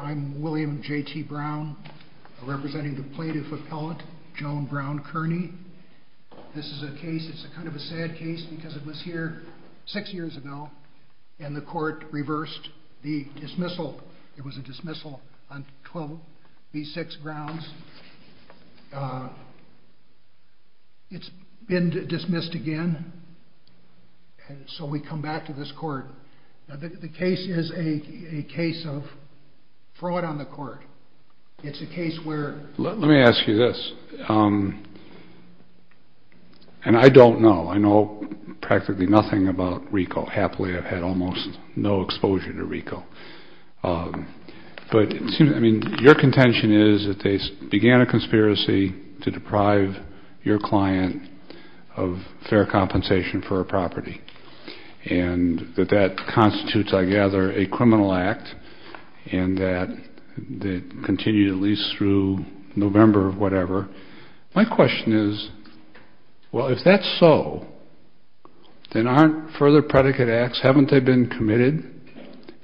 I'm William J.T. Brown representing the Plaintiff Appellate, Joan Brown Kearney. This is a case, it's kind of a sad case because it was here six years ago and the court reversed the dismissal. It was a dismissal on 12 v. 6 grounds. It's been dismissed again, so we come back to this court. The case is a case of fraud on the court. It's a case where... Let me ask you this, and I don't know, I know practically nothing about RICO. Happily, I've had almost no exposure to RICO. But your contention is that they began a conspiracy to deprive your client of fair compensation for a property and that that constitutes, I gather, a criminal act and that it continued at least through November of whatever. My question is, well, if that's so, then aren't further predicate acts... Haven't they been committed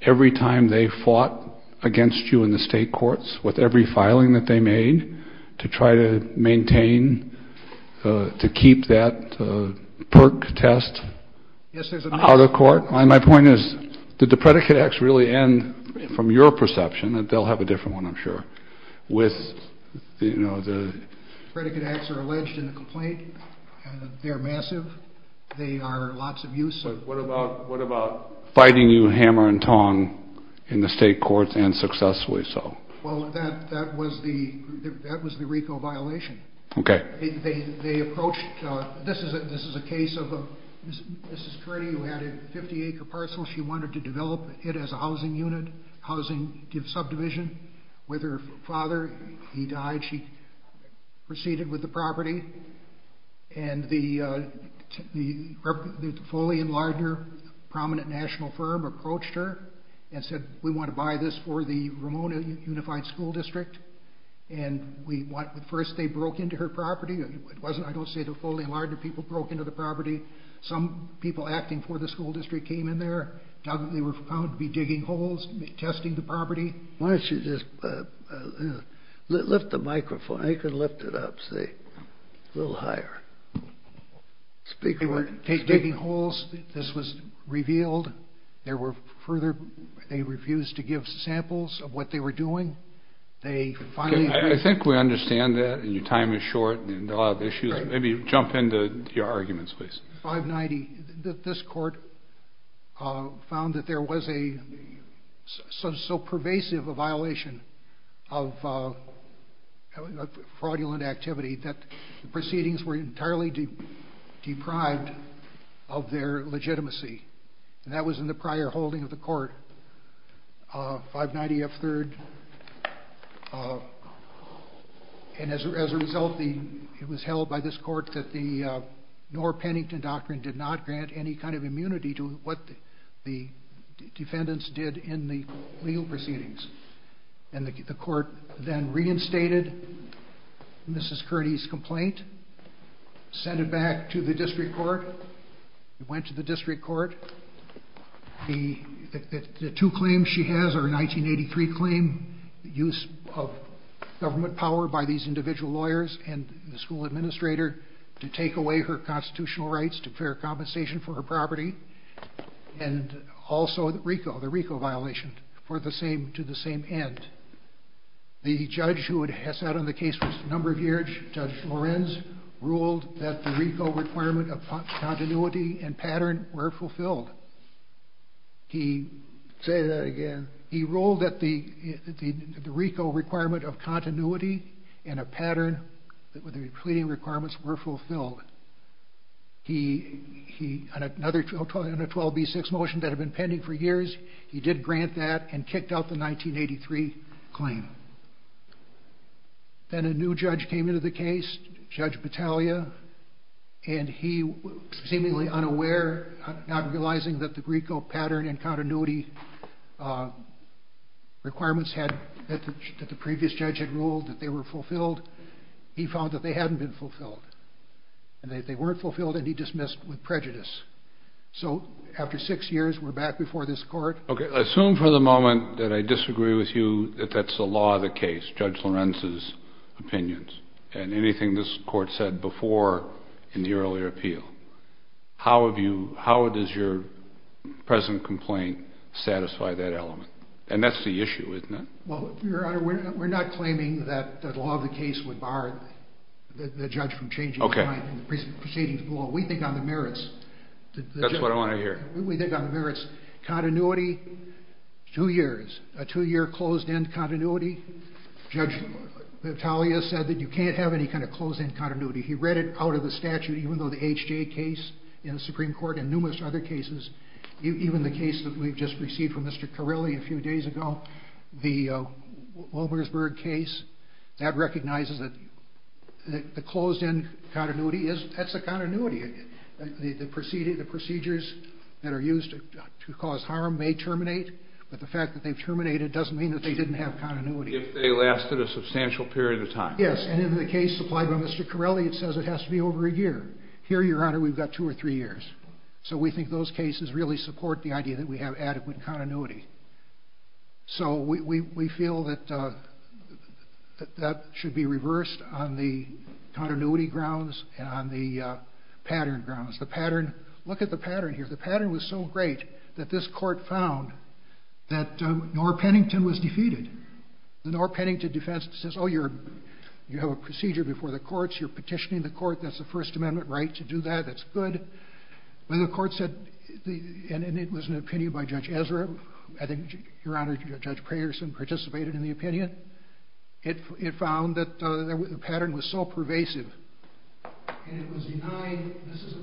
every time they fought against you in the state courts with every filing that they made to try to maintain, to keep that PERC test out of court? My point is, did the predicate acts really end, from your perception, and they'll have a different one, I'm sure, with the... The predicate acts are alleged in the complaint. They're massive. They are lots of use. But what about fighting you hammer and tong in the state courts and successfully so? Well, that was the RICO violation. Okay. They approached... This is a case of a Mrs. Kearney who had a 50-acre parcel. She wanted to develop it as a housing unit, housing subdivision. With her father, he died. She proceeded with the property. And the Foley and Lardner prominent national firm approached her and said, we want to buy this for the Ramona Unified School District. And first they broke into her property. I don't say the Foley and Lardner people broke into the property. Some people acting for the school district came in there. They were found to be digging holes, testing the property. Why don't you just lift the microphone? I could lift it up, see. A little higher. Speak for it. They were digging holes. This was revealed. There were further... They refused to give samples of what they were doing. They finally... I think we understand that. And your time is short. And a lot of issues. Maybe jump into your arguments, please. 590, this court found that there was a... of fraudulent activity. That the proceedings were entirely deprived of their legitimacy. And that was in the prior holding of the court. 590 F. 3rd. And as a result, it was held by this court that the Knorr-Pennington Doctrine did not grant any kind of immunity to what the defendants did in the legal proceedings. And the court then reinstated Mrs. Curdy's complaint. Sent it back to the district court. It went to the district court. The two claims she has are a 1983 claim, the use of government power by these individual lawyers and the school administrator to take away her constitutional rights to clear compensation for her property. And also the RICO violation to the same end. The judge who sat on the case for a number of years, Judge Lorenz, ruled that the RICO requirement of continuity and pattern were fulfilled. He... Say that again. He ruled that the RICO requirement of continuity and a pattern, that the completing requirements were fulfilled. He... On a 12B6 motion that had been pending for years, he did grant that and kicked out the 1983 claim. Then a new judge came into the case, Judge Battaglia, and he, seemingly unaware, not realizing that the RICO pattern and continuity requirements that the previous judge had ruled that they were fulfilled, he found that they hadn't been fulfilled. And that they weren't fulfilled and he dismissed with prejudice. So after six years, we're back before this court. Okay. Assume for the moment that I disagree with you that that's the law of the case, Judge Lorenz's opinions, and anything this court said before in the earlier appeal. How have you... How does your present complaint satisfy that element? And that's the issue, isn't it? Well, Your Honor, we're not claiming that the law of the case would bar the judge from changing his mind and proceeding to the law. We think on the merits... That's what I want to hear. We think on the merits. Continuity, two years. A two-year closed-end continuity. Judge Battaglia said that you can't have any kind of closed-end continuity. He read it out of the statute, even though the H.J. case in the Supreme Court and numerous other cases, even the case that we've just received from Mr. Carilli a few days ago, the Wilmersburg case, that recognizes that the closed-end continuity is... That's a continuity. The procedures that are used to cause harm may terminate, but the fact that they've terminated doesn't mean that they didn't have continuity. If they lasted a substantial period of time. Yes, and in the case supplied by Mr. Carilli, it says it has to be over a year. Here, Your Honor, we've got two or three years. So we think those cases really support the idea that we have adequate continuity. So we feel that that should be reversed on the continuity grounds and on the pattern grounds. The pattern... Look at the pattern here. The pattern was so great that this court found that Norr Pennington was defeated. The Norr Pennington defense says, Oh, you have a procedure before the courts. You're petitioning the court. That's a First Amendment right to do that. That's good. When the court said... And it was an opinion by Judge Ezra. I think, Your Honor, Judge Prayerson participated in the opinion. It found that the pattern was so pervasive, and it was denied... This is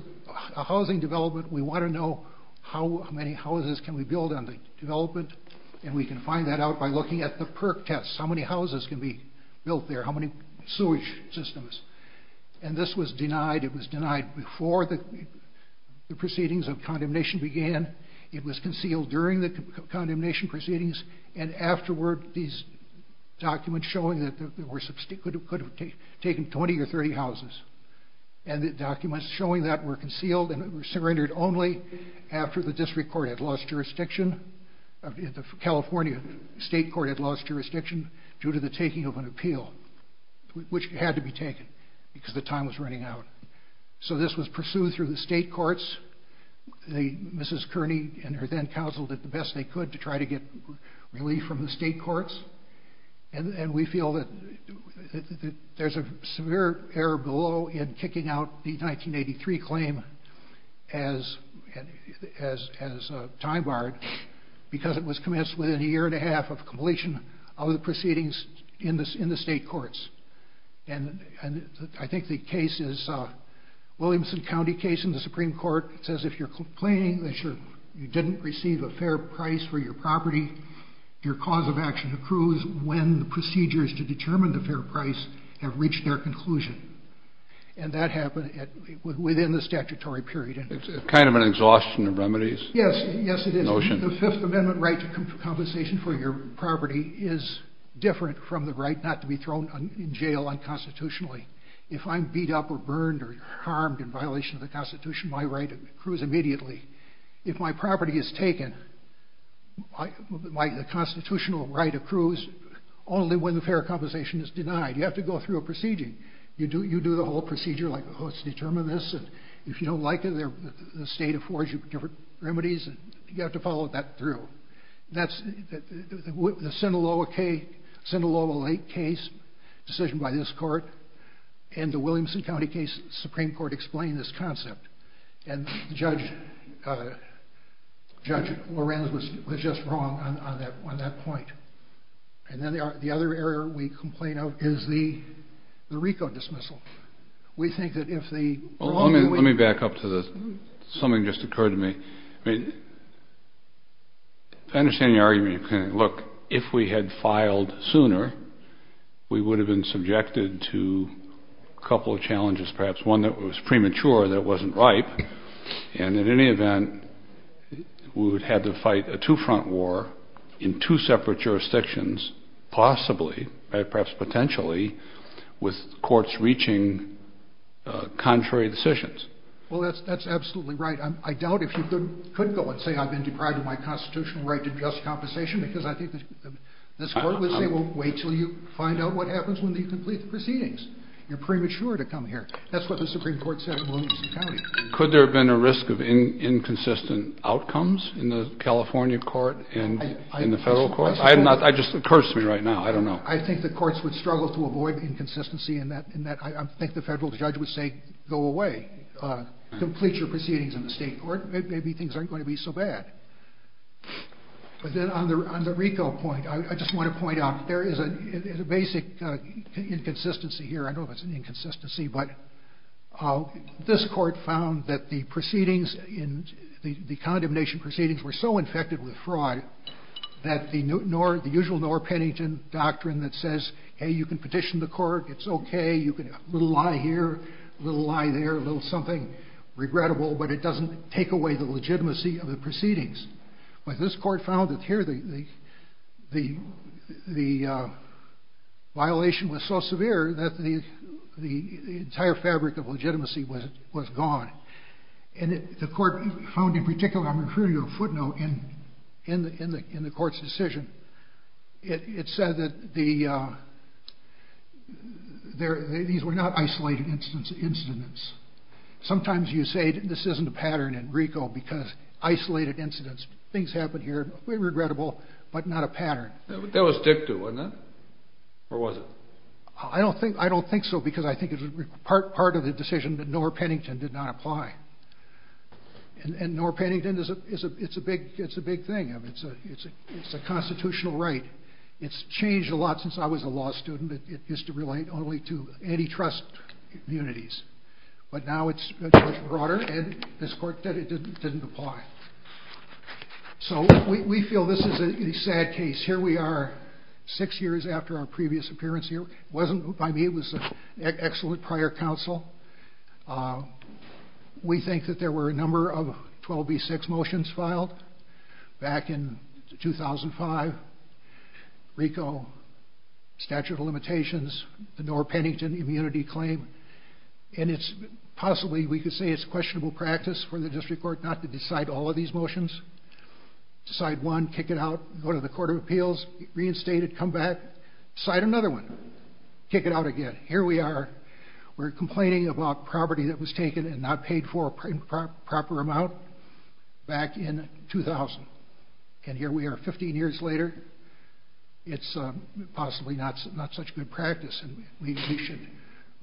a housing development. We want to know how many houses can we build on the development, and we can find that out by looking at the PERC tests. How many houses can be built there? How many sewage systems? And this was denied. It was denied before the proceedings of condemnation began. It was concealed during the condemnation proceedings, and afterward, these documents showing that it could have taken 20 or 30 houses. And the documents showing that were concealed, and it was surrendered only after the district court had lost jurisdiction, the California state court had lost jurisdiction, due to the taking of an appeal, which had to be taken because the time was running out. So this was pursued through the state courts. Mrs. Kearney and her then-counsel did the best they could to try to get relief from the state courts, and we feel that there's a severe error below in kicking out the 1983 claim as time-barred because it was commenced within a year and a half of completion of the proceedings in the state courts. And I think the case is a Williamson County case in the Supreme Court. It says if you're complaining that you didn't receive a fair price for your property, your cause of action accrues when the procedures to determine the fair price have reached their conclusion. And that happened within the statutory period. It's kind of an exhaustion of remedies notion. Yes, it is. The Fifth Amendment right to compensation for your property is different from the right not to be thrown in jail unconstitutionally. If I'm beat up or burned or harmed in violation of the Constitution, my right accrues immediately. If my property is taken, the Constitutional right accrues only when the fair compensation is denied. You have to go through a procedure. You do the whole procedure like, oh, let's determine this, and if you don't like it, the state affords you different remedies, and you have to follow that through. The Sinaloa Lake case, decision by this court, and the Williamson County case, Supreme Court explained this concept. And Judge Lorenz was just wrong on that point. And then the other error we complain of is the RICO dismissal. Let me back up to this. Something just occurred to me. I mean, if I understand your argument, look, if we had filed sooner, we would have been subjected to a couple of challenges, perhaps one that was premature that wasn't ripe. And in any event, we would have to fight a two-front war in two separate jurisdictions, possibly, perhaps potentially, with courts reaching contrary decisions. Well, that's absolutely right. I doubt if you could go and say, I've been deprived of my constitutional right to just compensation, because I think this court would say, well, wait until you find out what happens when you complete the proceedings. You're premature to come here. That's what the Supreme Court said in Williamson County. Could there have been a risk of inconsistent outcomes in the California court and in the federal court? It just occurs to me right now. I don't know. I think the courts would struggle to avoid inconsistency in that. I think the federal judge would say, go away. Complete your proceedings in the state court. Maybe things aren't going to be so bad. But then on the RICO point, I just want to point out, there is a basic inconsistency here. I don't know if it's an inconsistency, but this court found that the proceedings, the condemnation proceedings, were so infected with fraud that the usual Norr-Pennington doctrine that says, hey, you can petition the court. It's okay. A little lie here, a little lie there, a little something regrettable, but it doesn't take away the legitimacy of the proceedings. But this court found that here the violation was so severe that the entire fabric of legitimacy was gone. And the court found in particular, I'm going to refer you to a footnote in the court's decision. It said that these were not isolated incidents. Sometimes you say this isn't a pattern in RICO because isolated incidents, things happen here, regrettable, but not a pattern. That was dicta, wasn't it? Or was it? I don't think so because I think it was part of the decision that Norr-Pennington did not apply. And Norr-Pennington, it's a big thing. It's a constitutional right. It's changed a lot since I was a law student. It used to relate only to antitrust communities. But now it's much broader, and this court said it didn't apply. So we feel this is a sad case. Here we are six years after our previous appearance here. It wasn't by me. It was an excellent prior counsel. We think that there were a number of 12b-6 motions filed back in 2005, RICO, statute of limitations, the Norr-Pennington immunity claim, and it's possibly, we could say it's questionable practice for the district court not to decide all of these motions. Decide one, kick it out, go to the Court of Appeals, reinstate it, come back, decide another one, kick it out again. Here we are. We're complaining about property that was taken and not paid for a proper amount back in 2000, and here we are 15 years later. It's possibly not such good practice, and we should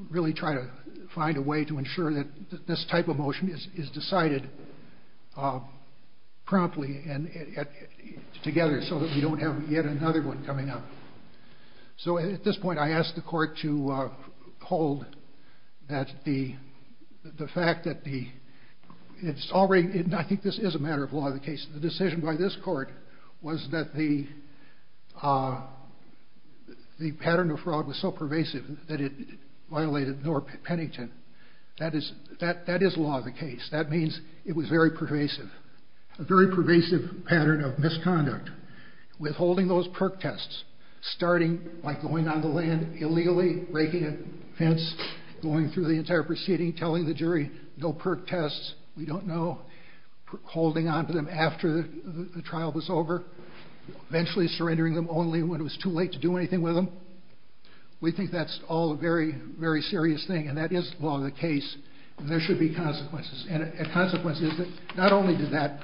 really try to find a way to ensure that this type of motion is decided promptly and together so that we don't have yet another one coming up. So at this point I ask the court to hold that the fact that the, and I think this is a matter of law of the case, the decision by this court was that the pattern of fraud was so pervasive that it violated Norr-Pennington. That is law of the case. That means it was very pervasive, a very pervasive pattern of misconduct. Withholding those perk tests, starting by going on the land illegally, breaking a fence, going through the entire proceeding, telling the jury no perk tests, we don't know, holding on to them after the trial was over, eventually surrendering them only when it was too late to do anything with them. We think that's all a very, very serious thing, and that is law of the case, and there should be consequences. And a consequence is that not only did that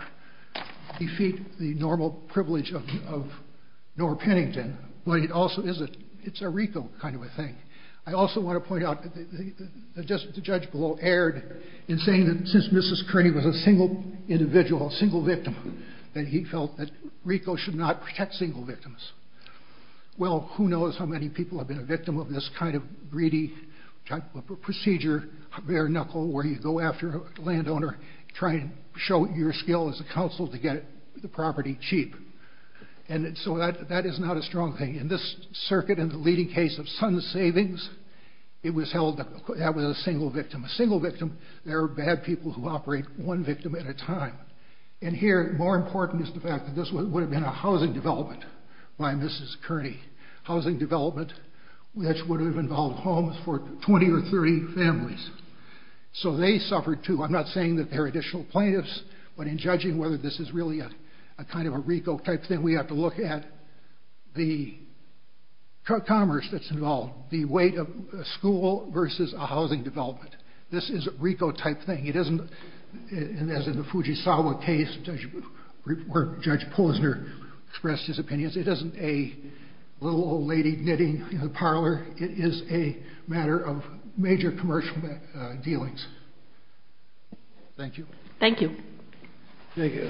defeat the normal privilege of Norr-Pennington, but it also is a RICO kind of a thing. I also want to point out that the judge below erred in saying that since Mrs. Kearney was a single individual, a single victim, that he felt that RICO should not protect single victims. Well, who knows how many people have been a victim of this kind of greedy type of procedure, bare knuckle, where you go after a landowner, try and show your skill as a counsel to get the property cheap. And so that is not a strong thing. In this circuit, in the leading case of Sun Savings, it was held that that was a single victim. A single victim, there are bad people who operate one victim at a time. And here, more important is the fact that this would have been a housing development by Mrs. Kearney, housing development which would have involved homes for 20 or 30 families. So they suffered, too. I'm not saying that there are additional plaintiffs, but in judging whether this is really a kind of a RICO type thing, we have to look at the commerce that's involved, the weight of a school versus a housing development. This is a RICO type thing. It isn't, as in the Fujisawa case, where Judge Posner expressed his opinions, it isn't a little old lady knitting in the parlor. It is a matter of major commercial dealings. Thank you. Thank you. Thank you.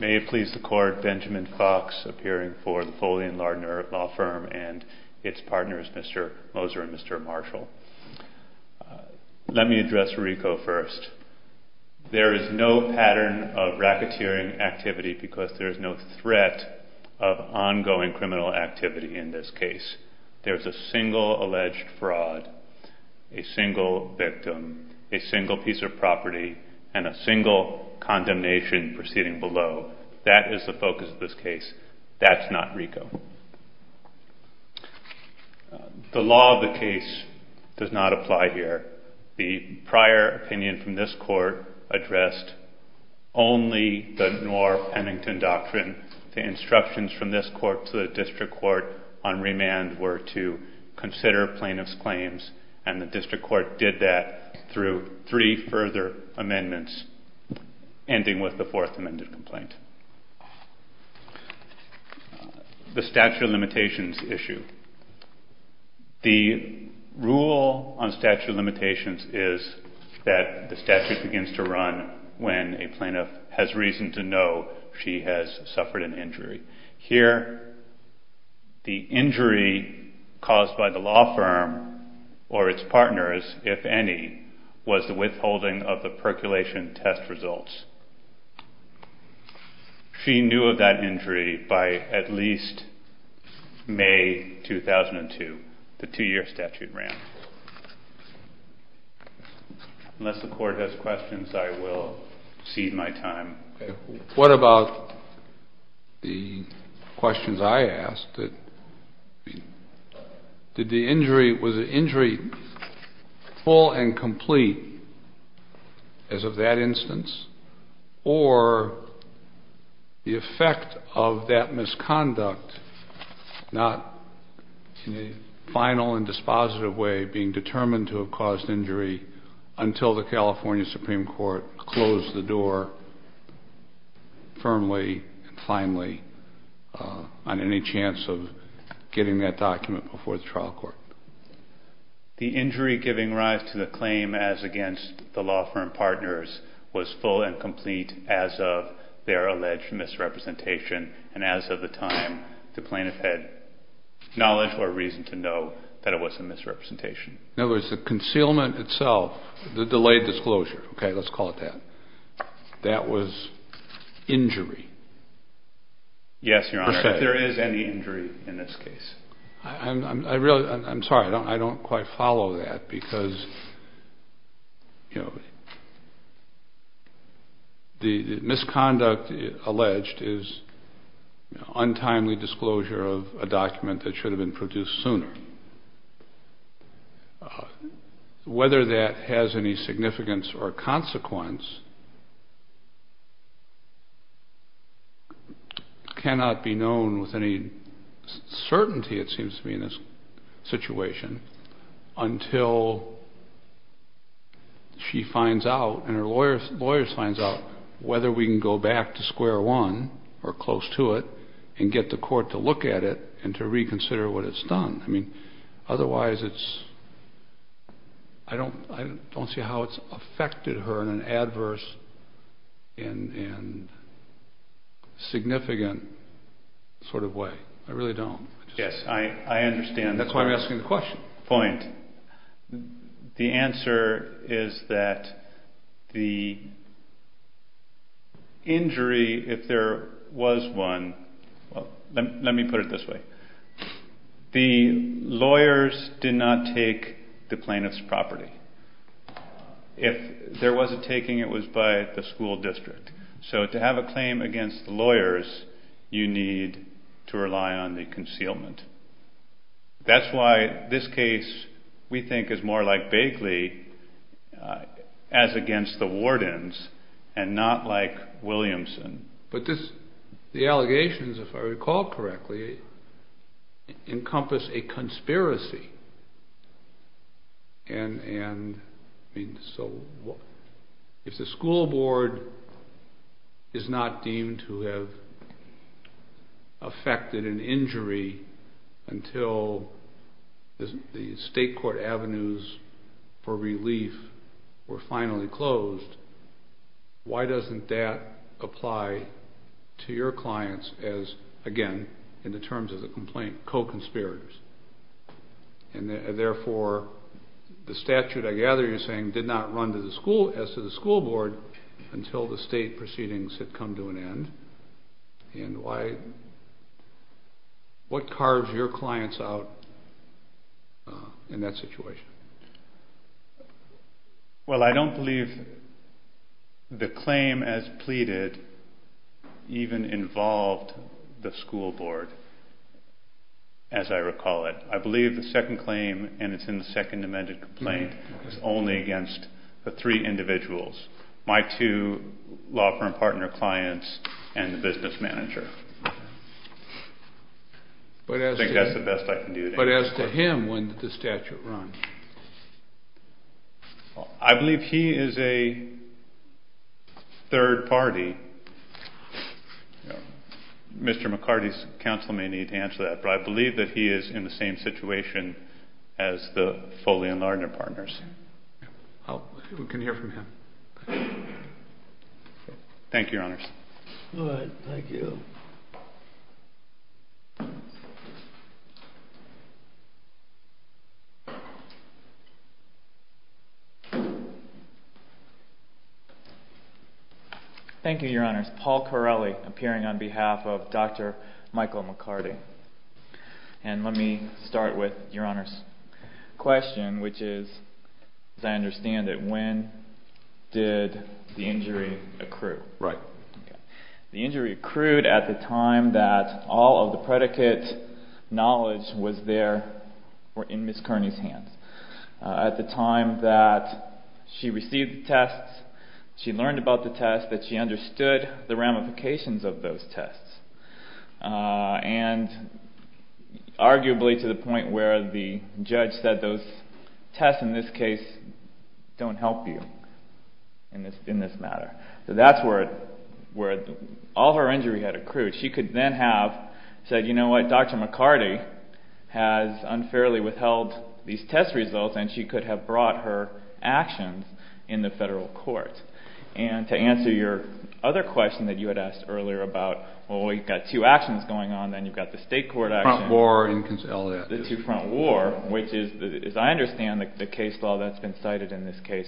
May it please the Court, Benjamin Fox appearing for the Foley and Lardner Law Firm and its partners, Mr. Moser and Mr. Marshall. Let me address RICO first. There is no pattern of racketeering activity because there is no threat of ongoing criminal activity in this case. There is a single alleged fraud, a single victim, a single piece of property, and a single condemnation proceeding below. That is the focus of this case. That's not RICO. The law of the case does not apply here. The prior opinion from this Court addressed only the Knorr-Pennington Doctrine. The instructions from this Court to the District Court on remand were to consider plaintiff's claims, and the District Court did that through three further amendments, ending with the fourth amended complaint. The statute of limitations issue. The rule on statute of limitations is that the statute begins to run when a plaintiff has reason to know she has suffered an injury. Here, the injury caused by the law firm or its partners, if any, was the withholding of the percolation test results. She knew of that injury by at least May 2002. The two-year statute ran. Unless the Court has questions, I will cede my time. What about the questions I asked? Was the injury full and complete as of that instance? Or the effect of that misconduct not in a final and dispositive way being determined to have caused injury until the California Supreme Court closed the door firmly and finally on any chance of getting that document before the trial court? The injury giving rise to the claim as against the law firm partners was full and complete as of their alleged misrepresentation, and as of the time the plaintiff had knowledge or reason to know that it was a misrepresentation. In other words, the concealment itself, the delayed disclosure, okay, let's call it that, that was injury. Yes, Your Honor, if there is any injury in this case. I'm sorry, I don't quite follow that because, you know, the misconduct alleged is untimely disclosure of a document that should have been produced sooner. Whether that has any significance or consequence cannot be known with any certainty, it seems to me, in this situation until she finds out and her lawyer finds out whether we can go back to square one or close to it and get the court to look at it and to reconsider what it's done. I mean, otherwise it's, I don't see how it's affected her in an adverse and significant sort of way. I really don't. Yes, I understand. That's why I'm asking the question. Point. The answer is that the injury, if there was one, let me put it this way. The lawyers did not take the plaintiff's property. If there was a taking, it was by the school district. So to have a claim against the lawyers, you need to rely on the concealment. That's why this case, we think, is more like Bagley as against the wardens and not like Williamson. But the allegations, if I recall correctly, encompass a conspiracy and so if the school board is not deemed to have affected an injury until the state court avenues for relief were finally closed, why doesn't that apply to your clients as, again, in the terms of the complaint, co-conspirators? Therefore, the statute, I gather you're saying, did not run as to the school board until the state proceedings had come to an end. What carves your clients out in that situation? Well, I don't believe the claim as pleaded even involved the school board, as I recall it. I believe the second claim, and it's in the second amended complaint, is only against the three individuals, my two law firm partner clients and the business manager. I think that's the best I can do today. But as to him, when did the statute run? I believe he is a third party. Mr. McCarty's counsel may need to answer that, but I believe that he is in the same situation as the Foley and Lardner partners. Thank you, Your Honors. Good. Thank you. Thank you, Your Honors. Paul Corelli appearing on behalf of Dr. Michael McCarty. And let me start with Your Honors' question, which is, as I understand it, when did the injury accrue? Right. The injury accrued at the time that all of the predicate knowledge was there, or in Ms. Kearney's hands. At the time that she received the tests, she learned about the tests, that she understood the ramifications of those tests, and arguably to the point where the judge said those tests, in this case, don't help you in this matter. So that's where all of her injury had accrued. She could then have said, you know what? Dr. McCarty has unfairly withheld these test results, and she could have brought her actions in the federal court. And to answer your other question that you had asked earlier about, well, you've got two actions going on. Then you've got the state court action. The two-front war, which is, as I understand the case law that's been cited in this case,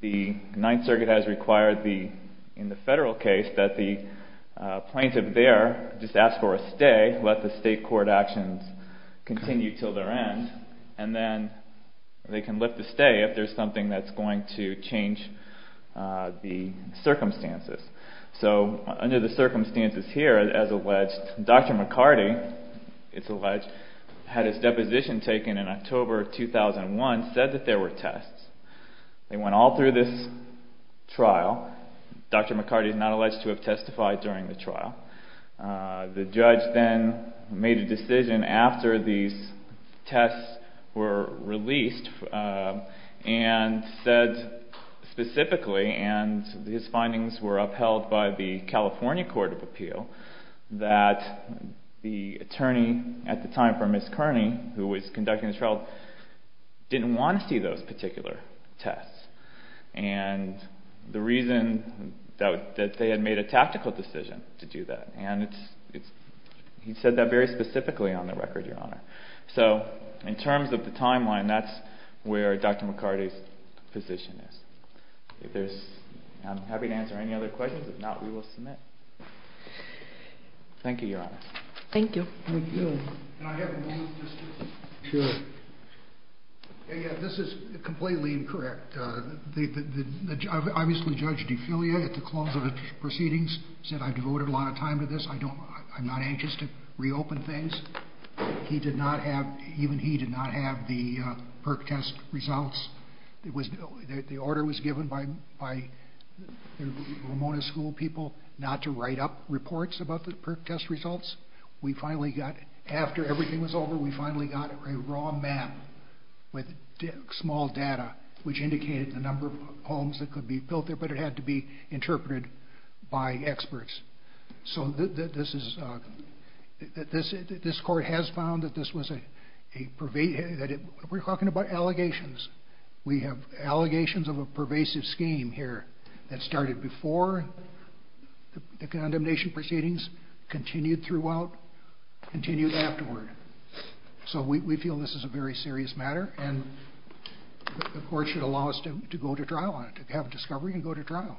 the Ninth Circuit has required in the federal case that the plaintiff there just ask for a stay, let the state court actions continue until their end, and then they can lift the stay if there's something that's going to change the circumstances. So under the circumstances here, as alleged, Dr. McCarty, it's alleged, had his deposition taken in October of 2001, said that there were tests. They went all through this trial. Dr. McCarty is not alleged to have testified during the trial. The judge then made a decision after these tests were released and said specifically, and his findings were upheld by the California Court of Appeal, that the attorney at the time for Ms. Kearney, who was conducting the trial, didn't want to see those particular tests, and the reason that they had made a tactical decision to do that, and he said that very specifically on the record, Your Honor. So in terms of the timeline, that's where Dr. McCarty's position is. I'm happy to answer any other questions. If not, we will submit. Thank you, Your Honor. Thank you. Can I have a moment, please? Sure. This is completely incorrect. Obviously, Judge Dufillier, at the close of the proceedings, said, I devoted a lot of time to this, I'm not anxious to reopen things. He did not have, even he did not have the PERC test results. The order was given by Ramona School people not to write up reports about the PERC test results. We finally got, after everything was over, we finally got a raw map with small data, which indicated the number of homes that could be built there, but it had to be interpreted by experts. So this is, this court has found that this was a, we're talking about allegations. We have allegations of a pervasive scheme here that started before the condemnation proceedings, continued throughout, continued afterward. So we feel this is a very serious matter, and the court should allow us to go to trial on it, to have a discovery and go to trial.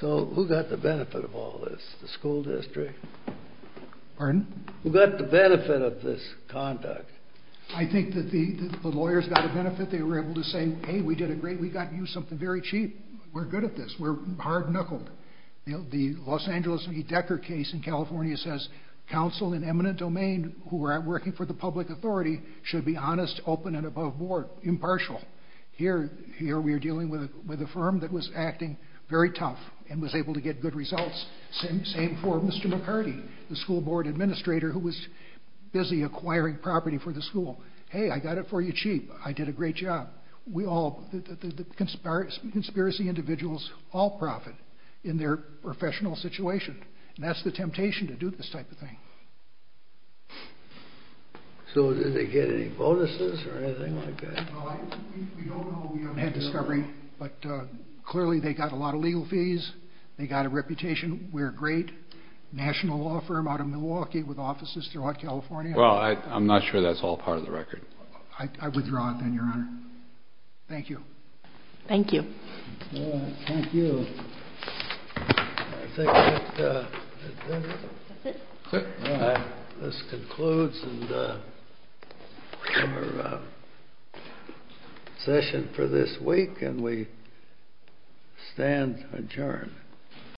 So who got the benefit of all this, the school district? Pardon? Who got the benefit of this conduct? I think that the lawyers got a benefit. They were able to say, hey, we did a great, we got you something very cheap. We're good at this. We're hard knuckled. The Los Angeles v. Decker case in California says counsel in eminent domain who are working for the public authority should be honest, open, and above board, impartial. Here we are dealing with a firm that was acting very tough and was able to get good results. Same for Mr. McCarty, the school board administrator who was busy acquiring property for the school. Hey, I got it for you cheap. I did a great job. The conspiracy individuals all profit in their professional situation, and that's the temptation to do this type of thing. So did they get any bonuses or anything like that? We don't know. We haven't had discovery. But clearly they got a lot of legal fees. They got a reputation. We're a great national law firm out of Milwaukee with offices throughout California. Well, I'm not sure that's all part of the record. I withdraw it then, Your Honor. Thank you. Thank you. Thank you. This concludes our session for this week, and we stand adjourned.